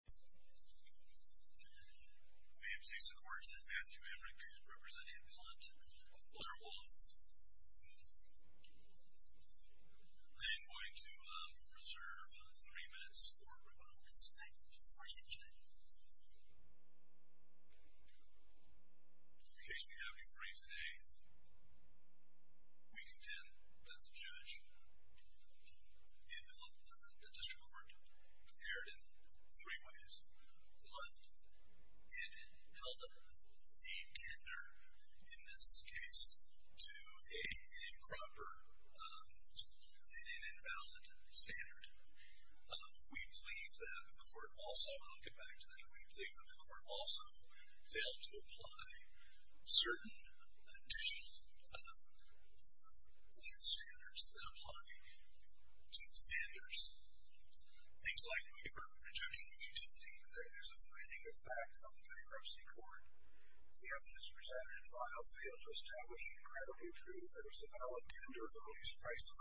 I am going to reserve three minutes for rebuttal and say thank you to the Supreme Court judge. In case we have any briefs today, we contend that the judge in the District Court erred in three ways. One, it held a tender in this case to an improper and invalid standard. We believe that the court also, and I'll get back to that, we believe that the court also failed to apply certain additional standards that apply to standards. Things like when you're projecting utility, there's a finding of fact on the bankruptcy court. The evidence presented in file failed to establish a credible proof. There was a valid tender of the lowest price of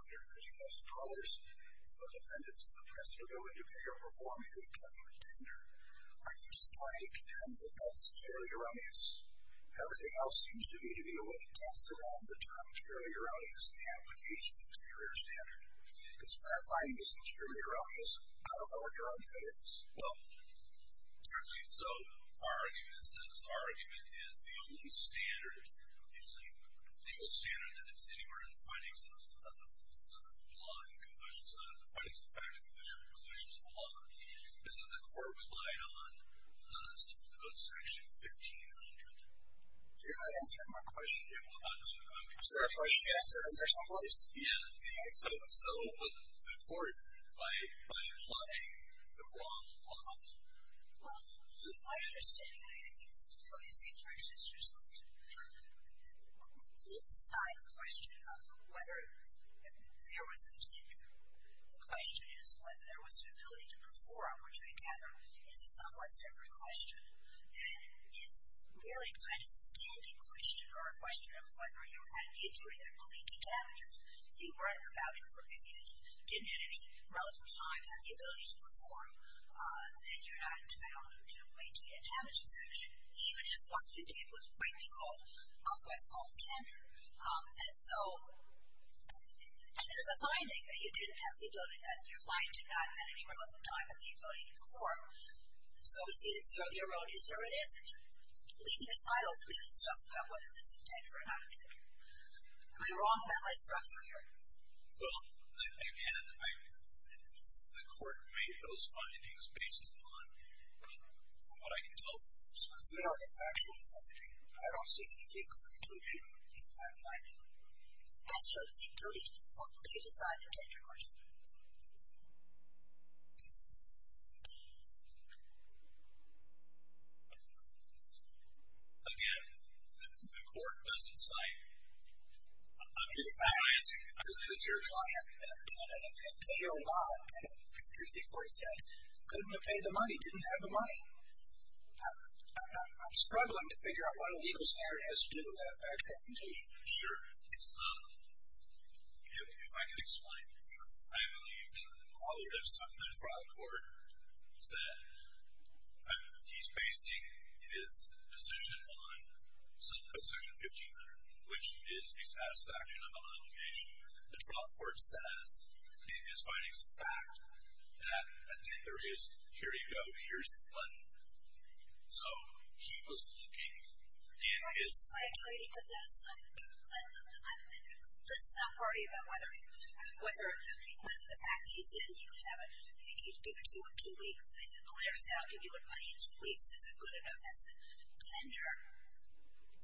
$150,000, and the defendants of the precedent are going to appear before me with a valid tender. Are you just trying to contend that that's purely erroneous? Everything else seems to me to be a way to dance around the term purely erroneous in the application of the superior standard. Because if that finding isn't purely erroneous, I don't know what your argument is. Well, certainly so. Our argument is that this argument is the only standard, the only legal standard that is anywhere in the findings of the law and the conclusions, the findings of the fact and conclusions of the law, is that the court relied on something called section 1500. You're not answering my question yet. Is there a question yet? There's no question. Yeah. So the court, by applying the wrong law? Well, my understanding, I think, for the sake of your existence, is that inside the question of whether there was a tender, the question is whether there was the ability to perform, which I gather is a somewhat separate question than is really kind of a standing question or a question of whether you had an injury that would lead to damages. If you weren't about your proficiency, didn't at any relevant time have the ability to perform, then you're not entitled to maintain a damage exemption, even if what you did was greatly called, otherwise called, tender. And so there's a finding that you didn't have the ability, that your client did not at any relevant time have the ability to perform. So we see that throughout the erroneous evidence, leaving aside all the stupid stuff about whether this is a tender or not a tender. Am I wrong about my structure here? Well, again, the court made those findings based upon what I can tell. So it's not a factual finding. I don't see any legal conclusion in that finding. As to the ability to perform, leave aside the tender question. Again, the court doesn't cite any facts. Who could your client have done it? And pay or not? And the court said, couldn't have paid the money, didn't have the money. I'm struggling to figure out what a legal scenario has to do with that factual conclusion. Sure. If I could explain. I believe that all of this, the trial court said, he's basing his position on something in section 1500, which is dissatisfaction of an obligation. The trial court says in his findings of fact that a tender is, here you go, here's the money. So he was looking in his- I agree with this. Let's not worry about whether the fact that he said he'd give it to you in two weeks, and the lawyer said I'll give you the money in two weeks, is it good enough as a tender?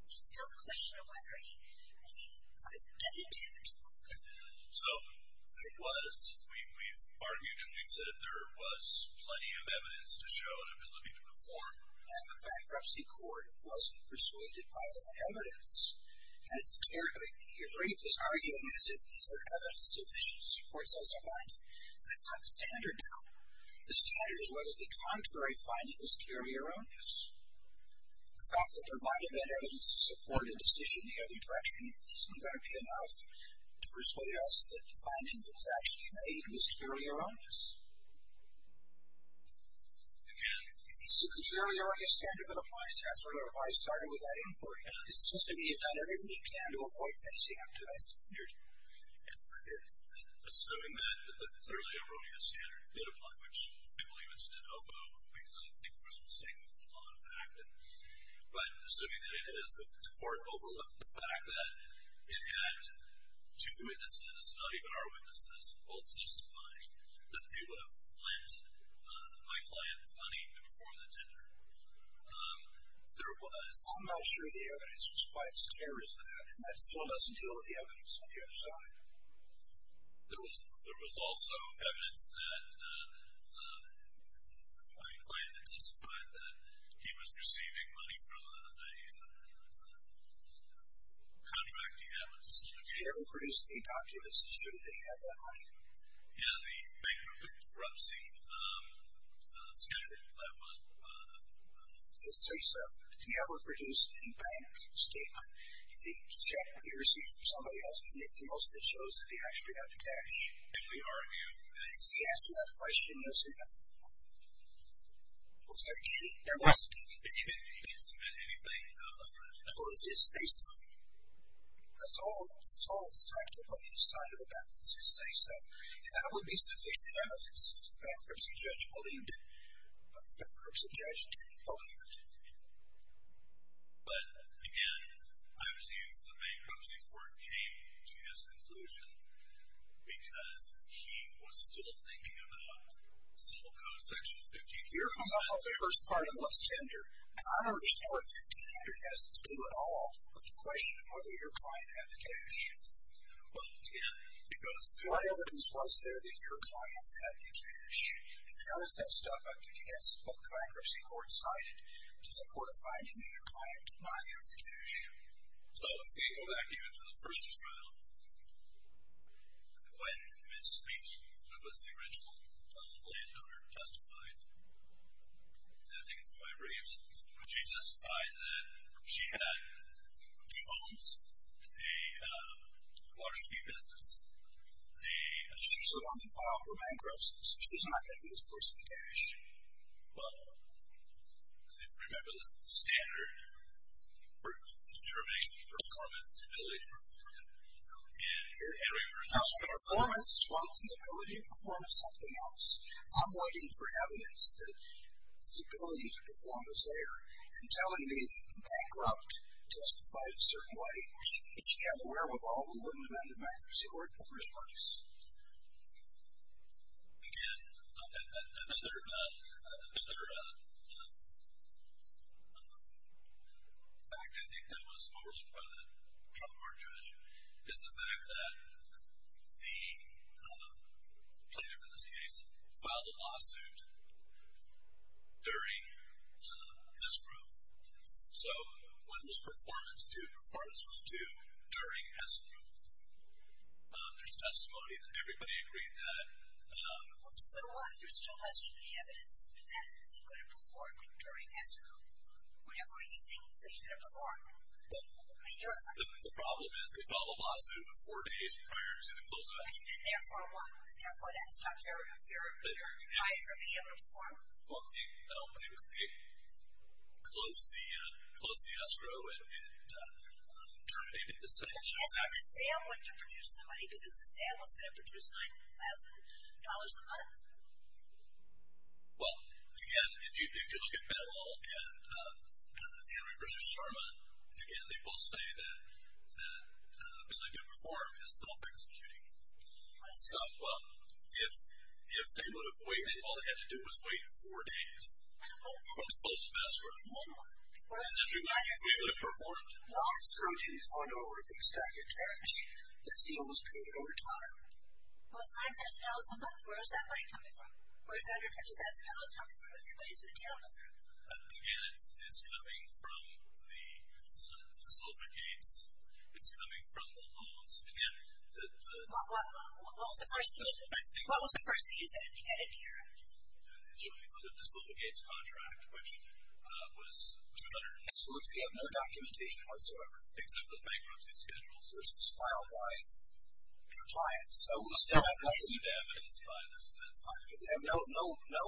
There's still the question of whether he could have given it to him in two weeks. So there was, we've argued and we've said there was plenty of evidence to show that he would have been looking for the form. And the bankruptcy court wasn't persuaded by that evidence. And it's clear to me, your brief is arguing as if these are evidence of issues. The court says, never mind, that's not the standard now. The standard is whether the contrary finding was clearly erroneous. The fact that there might have been evidence to support a decision in the other direction isn't going to be enough to persuade us that the finding that was actually made was clearly erroneous. Again? It's a clearly erroneous standard that applies to that. So I don't know if I started with that inquiry. It seems to me you've done everything you can to avoid facing up to that standard. Assuming that the clearly erroneous standard did apply, which I believe it's de novo because I think there was a mistake with the law in effect. But assuming that it is, the court overlooked the fact that it had two witnesses, not even our witnesses, both testifying, that they would have lent my client money before the tender. There was. I'm not sure the evidence was quite as clear as that. And that still doesn't deal with the evidence on the other side. There was also evidence that my client testified that he was receiving money from a contracting analyst. Did he ever produce any documents to show that he had that money? Yeah, the bankruptcy schedule that we had was. Let's say so. Did he ever produce any bank statement? Did he check what he received from somebody else? Anything else that shows that he actually had the cash? If we argue that. He asked that question, yes or no? Was there any? There wasn't any. He didn't submit anything. So it's his say-so. It's all effective on his side of the balance, his say-so. And that would be sufficient evidence that the bankruptcy judge believed it. But the bankruptcy judge didn't believe it. But, again, I believe the bankruptcy court came to this conclusion because he was still thinking about civil code section 15. Your first part looks tender. I don't understand what 1500 has to do at all with the question of whether your client had the cash. Well, again, it goes through. What evidence was there that your client had the cash? And how is that stuff against what the bankruptcy court cited, which is a court of finding that your client did not have the cash? So if we go back even to the first trial, when Ms. Spiegel, who was the original landowner, justified, and I think it's in my briefs, when she justified that she had two homes, a water speed business, she was the one that filed for bankruptcy, so she's not going to be the source of the cash. Well, remember the standard for determining performance, ability to perform, and we were just talking about that. Performance is one thing. Ability to perform is something else. I'm waiting for evidence that the ability to perform is there. And telling me that the bankrupt justified a certain way, she has to be aware of all the women in the bankruptcy court in the first place. Again, another fact I think that was overlooked by the trial court judge is the fact that the plaintiff in this case filed a lawsuit during S group. So when was performance due? Performance was due during S group. There's testimony that everybody agreed to that. So what? There still hasn't been any evidence that he would have performed during S group. Whatever you think that he should have performed. The problem is they filed a lawsuit four days prior to the close of S group. And therefore what? Therefore that's not fair if you're trying to be able to perform. Well, they closed the S group and terminated the sale. And so the sale went to produce the money because the sale was going to produce $9,000 a month. Well, again, if you look at Bettle and Henry versus Sherman, again, they both say that ability to perform is self-executing. So if they would have waited, all they had to do was wait four days for the close of S group. And then he would have performed? No, it's $321 over a big stack of cash. The sale was paid over time. Well, it's $9,000 a month. Where is that money coming from? Where is that $950,000 coming from with your money for the talent authority? Again, it's coming from the desulficates. It's coming from the loans. Again, the — What was the first thing you said at a DRF? It's coming from the desulficates contract, which was $2,000. So it's — we have no documentation whatsoever. Except for the bankruptcy schedules. Those were filed by your clients. So we still have nothing. Nothing damaged by them. That's fine. But they have no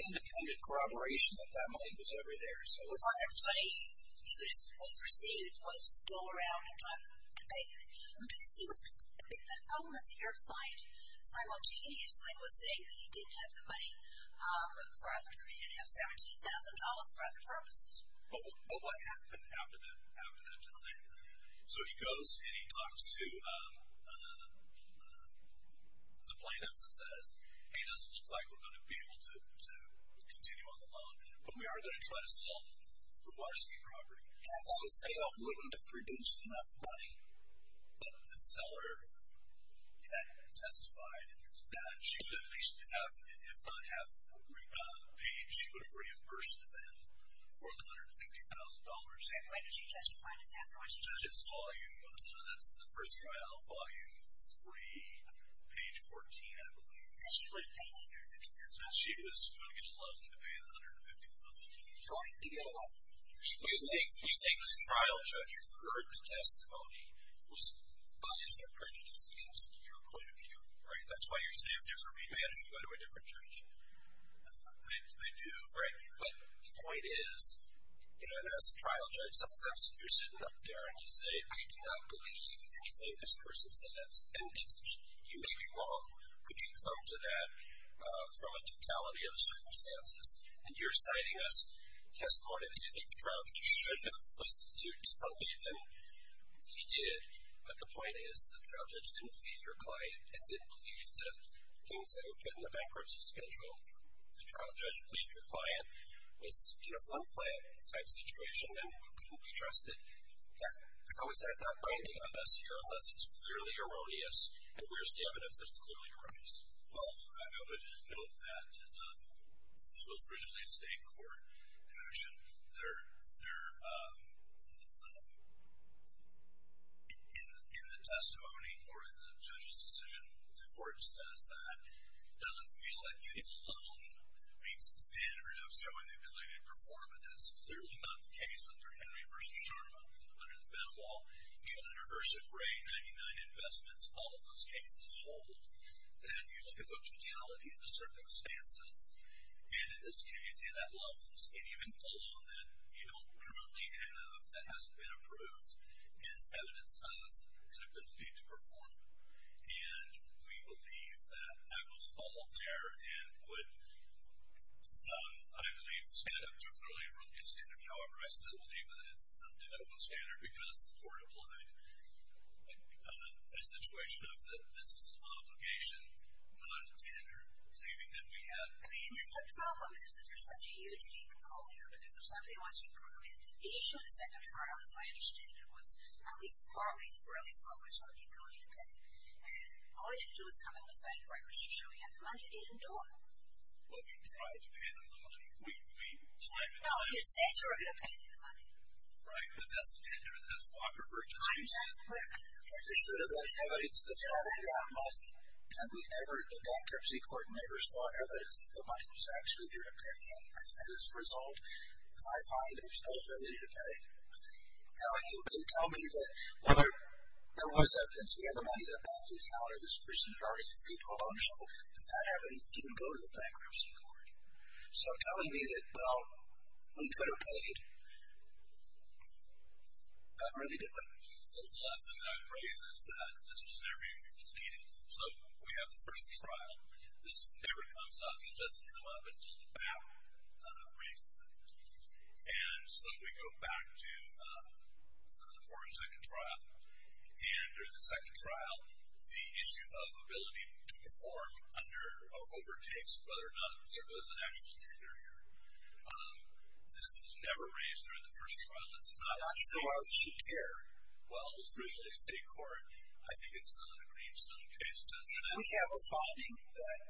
independent corroboration that that money was ever there. So it's — But the money that was received was still around at the time of the debate. The problem is the DRF site. Simultaneously, it was saying that you didn't have the money for other purposes. You didn't have $17,000 for other purposes. But what happened after that time? So he goes and he talks to the plaintiffs and says, Hey, it doesn't look like we're going to be able to continue on the loan, but we are going to try to sell the waterski property. So Sale wouldn't have produced enough money, but the seller testified that she would at least have — if not have paid, she would have reimbursed them for the $150,000. And when did she testify to that? That's the first trial, volume three, page 14, I believe. She was going to get a loan to pay the $150,000. You think the trial judge heard the testimony, was biased or prejudiced against your point of view, right? That's why you're saying if there's a rematch, you go to a different judge. I do, right? But the point is, and as a trial judge, sometimes you're sitting up there and you say, I do not believe anything this person says. And you may be wrong, but you come to that from a totality of circumstances. And you're citing us testimony that you think the trial judge should have listened to to help you, and he did. But the point is the trial judge didn't believe your client and didn't believe the things that were put in the bankruptcy schedule. The trial judge believed your client was in a fund plan type situation and couldn't be trusted. How is that not binding on us here unless it's clearly erroneous, and where's the evidence that's clearly erroneous? Well, I would note that this was originally a state court action. In the testimony or in the judge's decision, the court says that it doesn't feel that getting a loan meets the standard of showing the included performance. It's clearly not the case under Henry v. Sharma, under the bed wall. Even under Versa Gray, 99 investments, all of those cases hold. And you look at the totality of the circumstances, and in this case, in that loans, and even a loan that you don't currently have that hasn't been approved is evidence of an ability to perform. And we believe that that was all there and would, I believe, stand up to a clearly erroneous standard. However, I still believe that it's not an erroneous standard because the court applied a situation of this is an obligation, and not a standard saving that we have for the individual. The problem is that there's such a huge need for coal here because if somebody wants to improve it, the issue in the second trial, as I understand it, was at least partly squarely focused on the ability to pay. And all you had to do was come in with bank records to show you had the money and you didn't do it. Well, we tried to pay them the money. We claimed it. No, you said you were going to pay them the money. Right, but that's standard. That's Walker versus Houston. There should have been evidence that you haven't got money, and the bankruptcy court never saw evidence that the money was actually there to pay. And as a result, I find there's no ability to pay. Now, you may tell me that, well, there was evidence. We had the money in a bank account, or this person had already paid a loan, and that evidence didn't go to the bankruptcy court. So telling me that, well, we could have paid, that's really different. The lesson that I'd raise is that this was never even completed. So we have the first trial. This never comes up. It doesn't come up until the bank raises it. And so we go back to the fourth and second trial. And during the second trial, the issue of ability to perform under overtakes, whether or not there was an actual injury or not, this was never raised during the first trial. It's not an issue here. Well, it was raised at a state court. I think it's a Greenstone case, doesn't it? If we have a finding that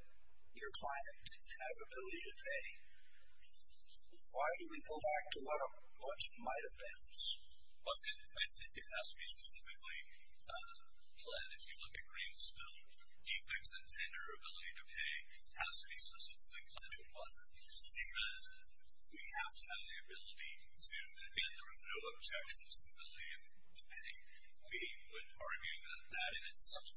your client didn't have ability to pay, why do we go back to what it might have been? Well, I think it has to be specifically, Glenn, if you look at Greenstone, defects in tender, ability to pay, has to be specifically what it was. Because we have to have the ability to, and again, there was no objections to ability to pay. We would argue that that in itself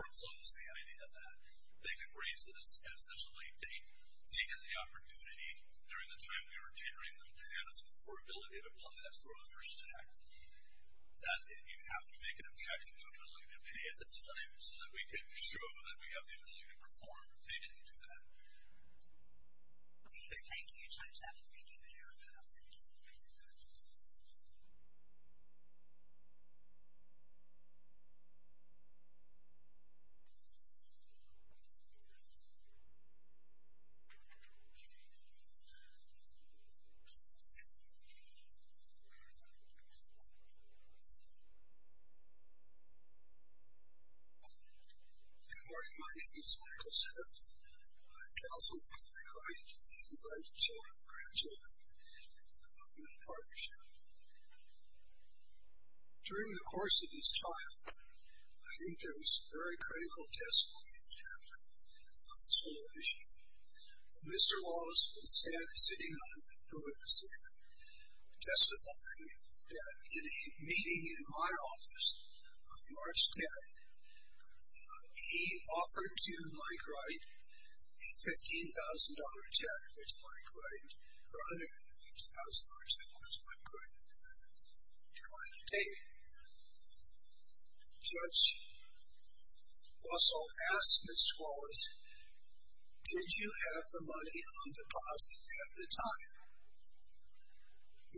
foreclosed the idea that they could raise this at such a late date. They had the opportunity during the time we were catering them to ask for ability to pay. That's grocers check. That you'd have to make an objection to ability to pay at the time so that we could show that we have the ability to perform. So, you didn't get to that. Thank you. Thank you. Thank you, Mayor. Thank you. Thank you. Thank you. Good morning. My name is Michael Smith. I'm counsel for the Greenstone Children and Grandchildren Mental Partnership. During the course of this trial, I think there was very critical testimony in terms of this whole issue. Mr. Wallace was sitting on the witness stand testifying that in a meeting in my office on March 10th, he offered to Mike Wright a $15,000 check, which Mike Wright, or $150,000, which Mike Wright declined to take. The judge also asked Mr. Wallace, did you have the money on deposit at the time?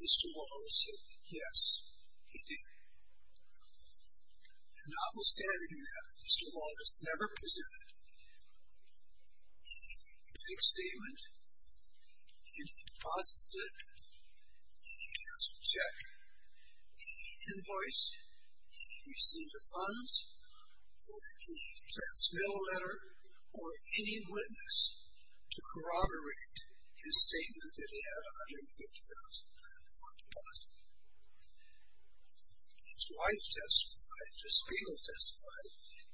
Mr. Wallace said, yes, he did. Notwithstanding that, Mr. Wallace never presented any bank statement, any deposit slip, any cancel check, any invoice, any receipt of funds, or any transmittal letter, or any witness to corroborate his $150,000 bond deposit. His wife testified, Ms. Spiegel testified,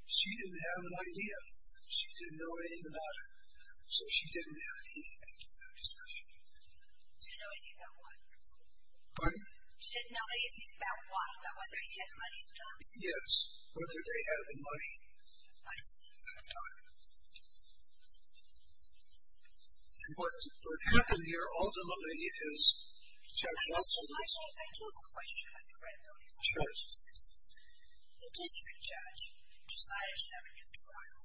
she didn't have an idea. She didn't know anything about it, so she didn't have any bank statement discussion. She didn't know anything about what? Pardon? She didn't know anything about what, about whether he had the money or not? Yes, whether they had the money at that time. And what happened here, ultimately, is Judge Russell was. I do have a question about the credibility of the charges. Sure. The district judge decided to have a new trial,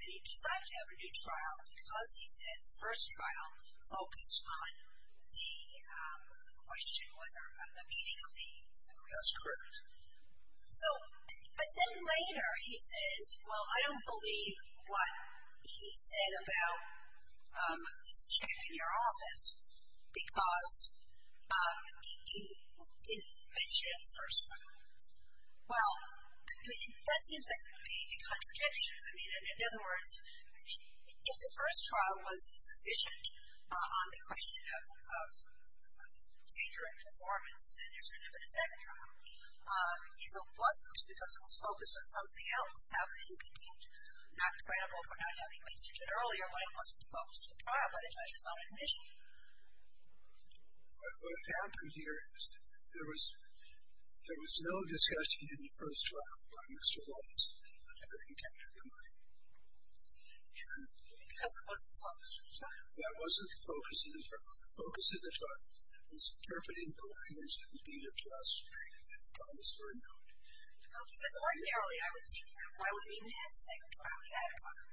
and he decided to have a new trial because he said the first trial focused on the question of the meaning of the agreement. That's correct. But then later he says, well, I don't believe what he said about this check in your office because he didn't mention it the first time. Well, that seems like a contradiction. I mean, in other words, if the first trial was sufficient on the question of danger and performance, then there should have been a second trial. If it wasn't because it was focused on something else, how could he be deemed not credible for not having mentioned it earlier when it wasn't the focus of the trial but the judge's own admission? What happened here is there was no discussion in the first trial by Mr. Wallace of having taken the money. Maybe because it wasn't the focus of the trial. That wasn't the focus of the trial. The focus of the trial was interpreting the language of the deed of trust and the promise for a note. Well, because ordinarily I would think that why would he even have a second trial at that time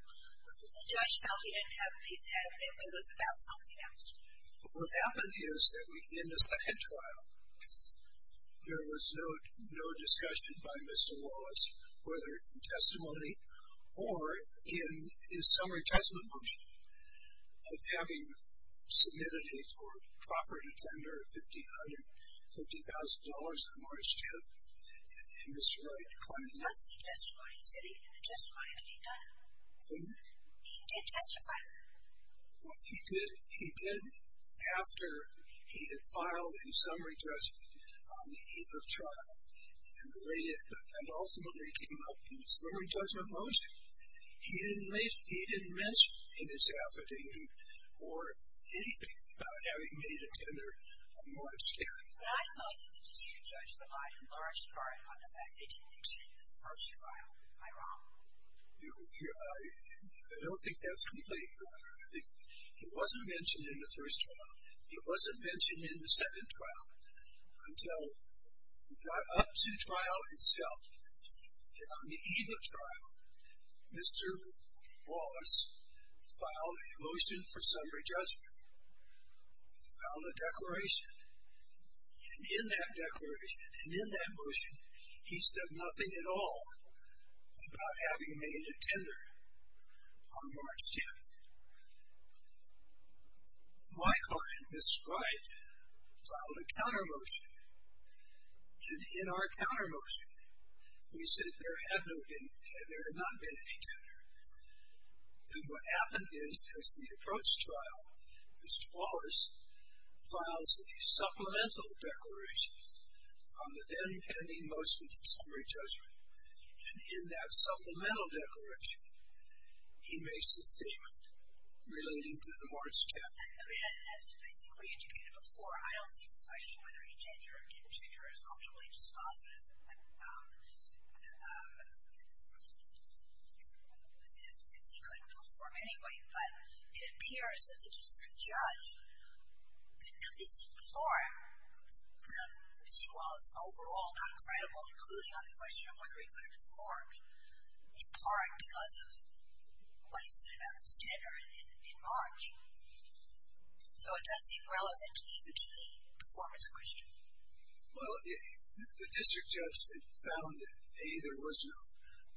when the judge felt he didn't have a need to have it and it was about something else? What happened is that in the second trial, there was no discussion by Mr. Wallace, whether in testimony or in his summary testament motion, of having submitted a property tender of $50,000 on March 10th, and Mr. Wright claiming that. He testified. He said he had a testimony to get done. He did testify. He did after he had filed a summary testament on the 8th of trial, and ultimately came up in the summary testament motion. He didn't mention in his affidavit or anything about having made a tender on March 10th. But I felt that the district judge relied in large part on the fact that he didn't mention in the first trial. Am I wrong? I don't think that's completely wrong. I think he wasn't mentioned in the first trial. He wasn't mentioned in the second trial until he got up to trial itself. And on the eve of trial, Mr. Wallace filed a motion for summary judgment. He filed a declaration. And in that declaration and in that motion, he said nothing at all about having made a tender on March 10th. My client, Mr. Wright, filed a counter motion. And in our counter motion, we said there had not been any tender. And what happened is, as the approach trial, Mr. Wallace files a supplemental declaration on the then pending motion for summary judgment. And in that supplemental declaration, he makes a statement relating to the March 10th. I mean, as a physically educated before, I don't think the question whether he tendered or didn't tender is optimally dispositive if he couldn't perform anyway. But it appears that the judge, at least before him, Mr. Wallace overall not credible, including on the question of whether he could have informed, in part because of what he said about this tender in March. So it does seem relevant even to the performance question. Well, the district judge had found that, A, there was no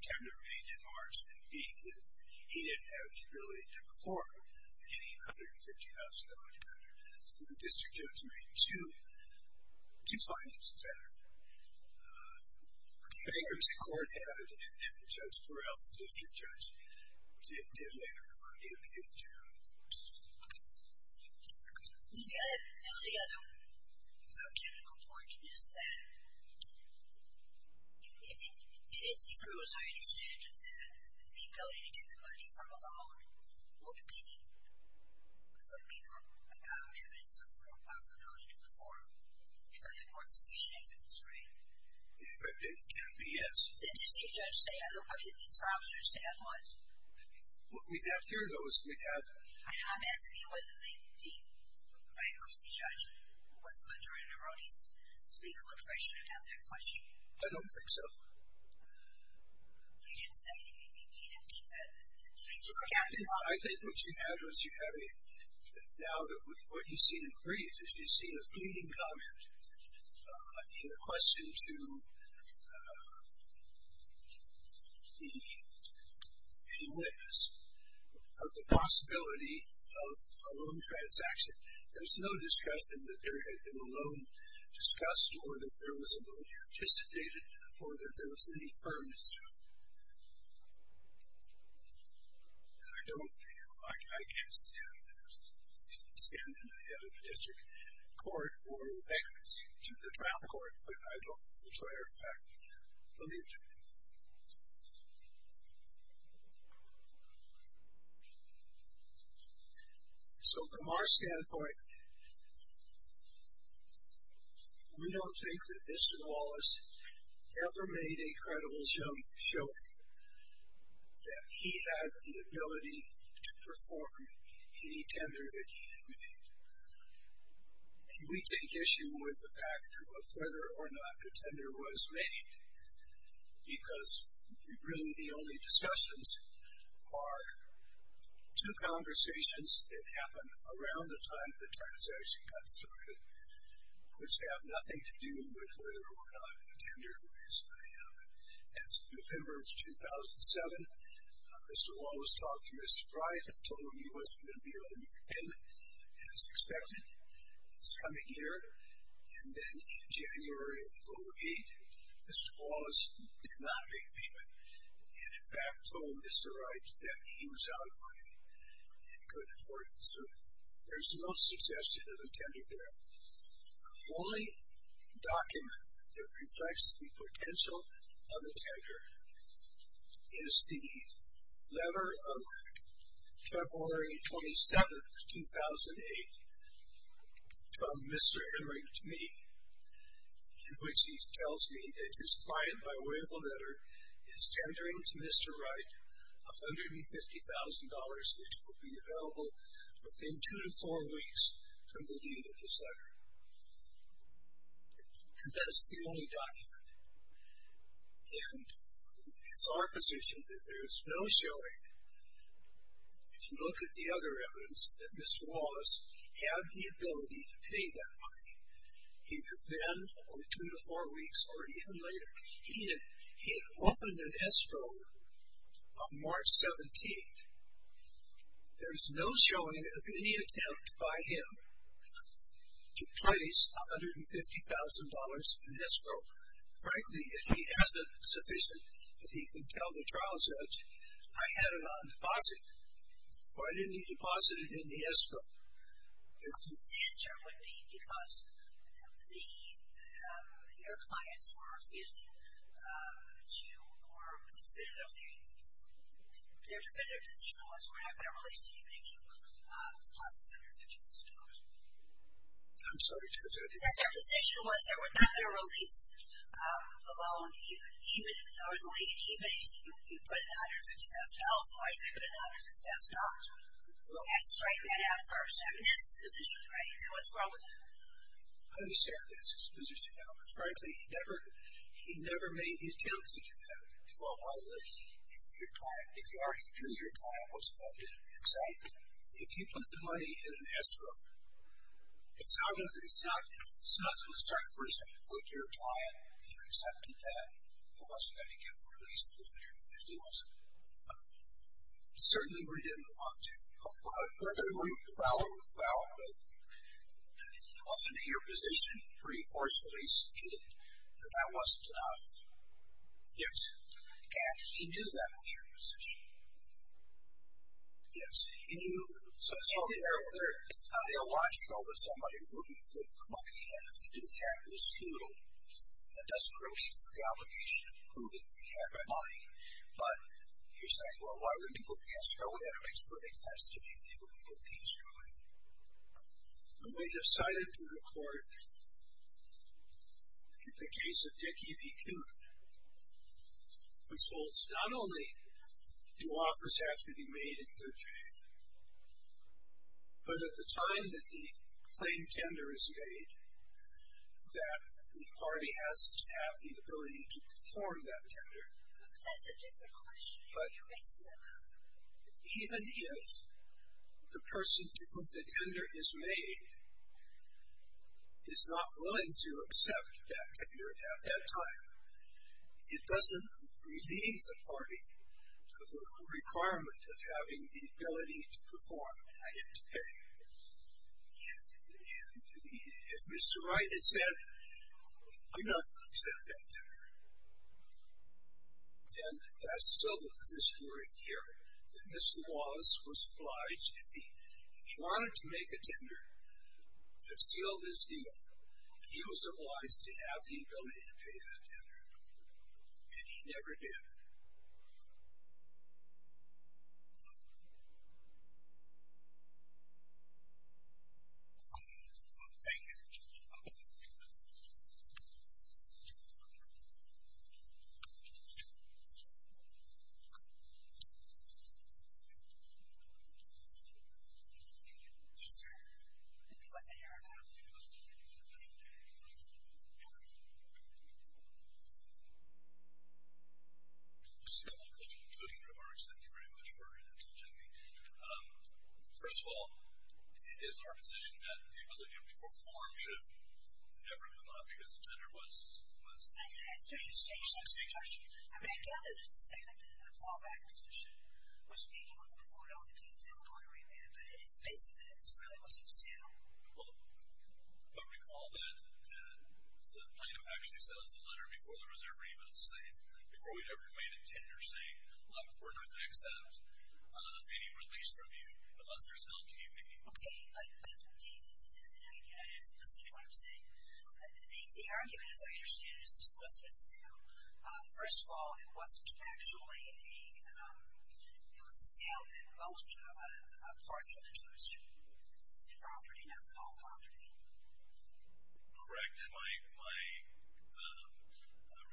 tender made in March, and B, that he didn't have the ability to perform any $150,000 tender. So the district judge made two findings of that. I think it was the court had, and Judge Burrell, the district judge, did later confirm the appeal, too. And the other technical point is that it is true, as I understand it, that the ability to get the money from a loan would be, could be a valid evidence of the ability to perform if, of course, sufficient evidence, right? It can be, yes. Then does the judge say, I don't know whether the trial judge said otherwise? What we have here, though, is we have. I know. I'm asking you whether the bankruptcy judge was under an erroneous legal impression about that question. I don't think so. You didn't say. You didn't keep that. I think what you had was you had a, now what you see in brief is you see a fleeting comment, a question to the, a witness of the possibility of a loan transaction. There was no discussion that there had been a loan discussed or that there was a loan anticipated or that there was any firmness to it. I don't, I can't stand, stand in the head of a district court for bankruptcy to the trial court, but I don't, as a matter of fact, believe it. So from our standpoint, we don't think that Mr. Wallace ever made a credible show, that he had the ability to perform any tender that he had made. And we take issue with the fact of whether or not the tender was made, because really the only discussions are two conversations that happened around the time the transaction got started, which have nothing to do with whether or not the tender was made. As of November of 2007, Mr. Wallace talked to Mr. Bryant and told him he wasn't going to be able to make a payment, as expected, this coming year. And then in January of 2008, Mr. Wallace did not make a payment and in fact told Mr. Wright that he was out of money and couldn't afford it. So there's no suggestion of a tender there. The only document that reflects the potential of a tender is the letter of February 27, 2008 from Mr. Enright to me, in which he tells me that his client, by way of a letter, is tendering to Mr. Wright $150,000, which will be available within two to four weeks from the date of this letter. And that's the only document. And it's our position that there's no showing, if you look at the other evidence, that Mr. Wallace had the ability to pay that money, either then or two to four weeks or even later. He had opened an escrow on March 17th. There's no showing of any attempt by him to place $150,000 in escrow. Frankly, if he has enough sufficient that he can tell the trial judge, I had it on deposit or I didn't need to deposit it in the escrow. The answer would be because the, your clients were refusing to, or their position was we're not going to release it even if you deposit $150,000. I'm sorry, Judge, I didn't hear you. Their position was that we're not going to release the loan, even if there was money, even if you put it in $150,000. So I say put it in $150,000. We'll strike that out first. I mean, that's his position, right? You know what's wrong with that? I understand that's his position now, but frankly, he never made his tendency to do that. Well, if your client, if you already knew your client wasn't going to accept it, if you put the money in an escrow, it's not going to, it's not, it's not going to strike first that you put your client and you're accepting that. It wasn't going to get released $150,000, was it? Certainly, we didn't want to. We're going to allow it, but often your position pretty forcefully stated that that wasn't enough. Yes. And he knew that was your position. Yes. So it's not illogical that somebody would be put money in if the new cat was poodle that doesn't relieve the obligation of proving that he had money, but you're saying, well, why wouldn't he put the escrow in? It makes perfect sense to me that he wouldn't get the escrow in. We have cited to the court the case of Dick E. B. Coon, which holds not only do offers have to be made in good faith, but at the time that the plain tender is made, that the party has to have the ability to perform that tender. That's a different question. But even if the person to whom the tender is made is not willing to accept that tender at that time, it doesn't relieve the party of the requirement of having the ability to perform and to pay. And if Mr. Wright had said, I'm not going to accept that tender, then that's still the position we're in here, that Mr. Wallace was obliged, if he wanted to make a tender that sealed his deal, he was obliged to have the ability to pay that tender. And he never did. Thank you. Thank you. Thank you. Just a couple of concluding remarks. Thank you very much for indulging me. First of all, it is our position that the ability to perform should never come up because the tender was... I mean, I get that there's a significant fallback position was being put on the table on agreement, but it's basically that this really wasn't sealed. But recall that the plaintiff actually sent us a letter before the reserve remittance saying, before we'd ever made a tender, saying we're not going to accept any release from you unless there's an LTV. Okay, but the argument, as I understand it, was to solicit a sale. First of all, it wasn't actually a... It was a sale that involved a parcel into his property, not the home property. Correct. And my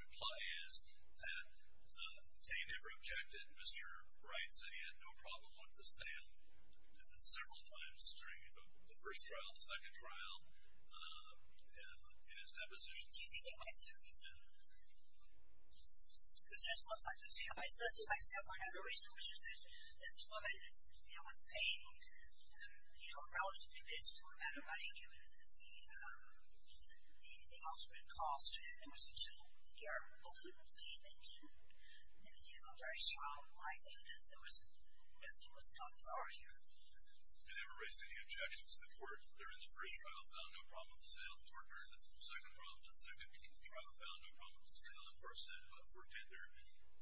reply is that they never objected. Mr. Wright said he had no problem with the sale several times during the first trial, the second trial, in his depositions. Do you think he might have? No. Because this looks like a sale. This looks like a sale for another reason, which is that this woman was paid, you know, a relatively reasonable amount of money given the offspring cost, and it was a two-year open payment. And, you know, a very strong liability that nothing was done for her here. They never raised any objections to the court. During the first trial, found no problem with the sale. During the second trial, found no problem with the sale, of course, for tender.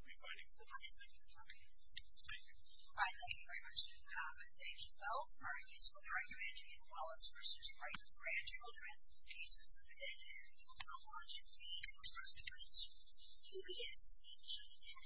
Thank you. All right. Thank you very much, David. Thank you both. All right. So the argument in Wallace v. Wright in the grandchildren case is submitted. We will now launch the response to questions. QPS, please.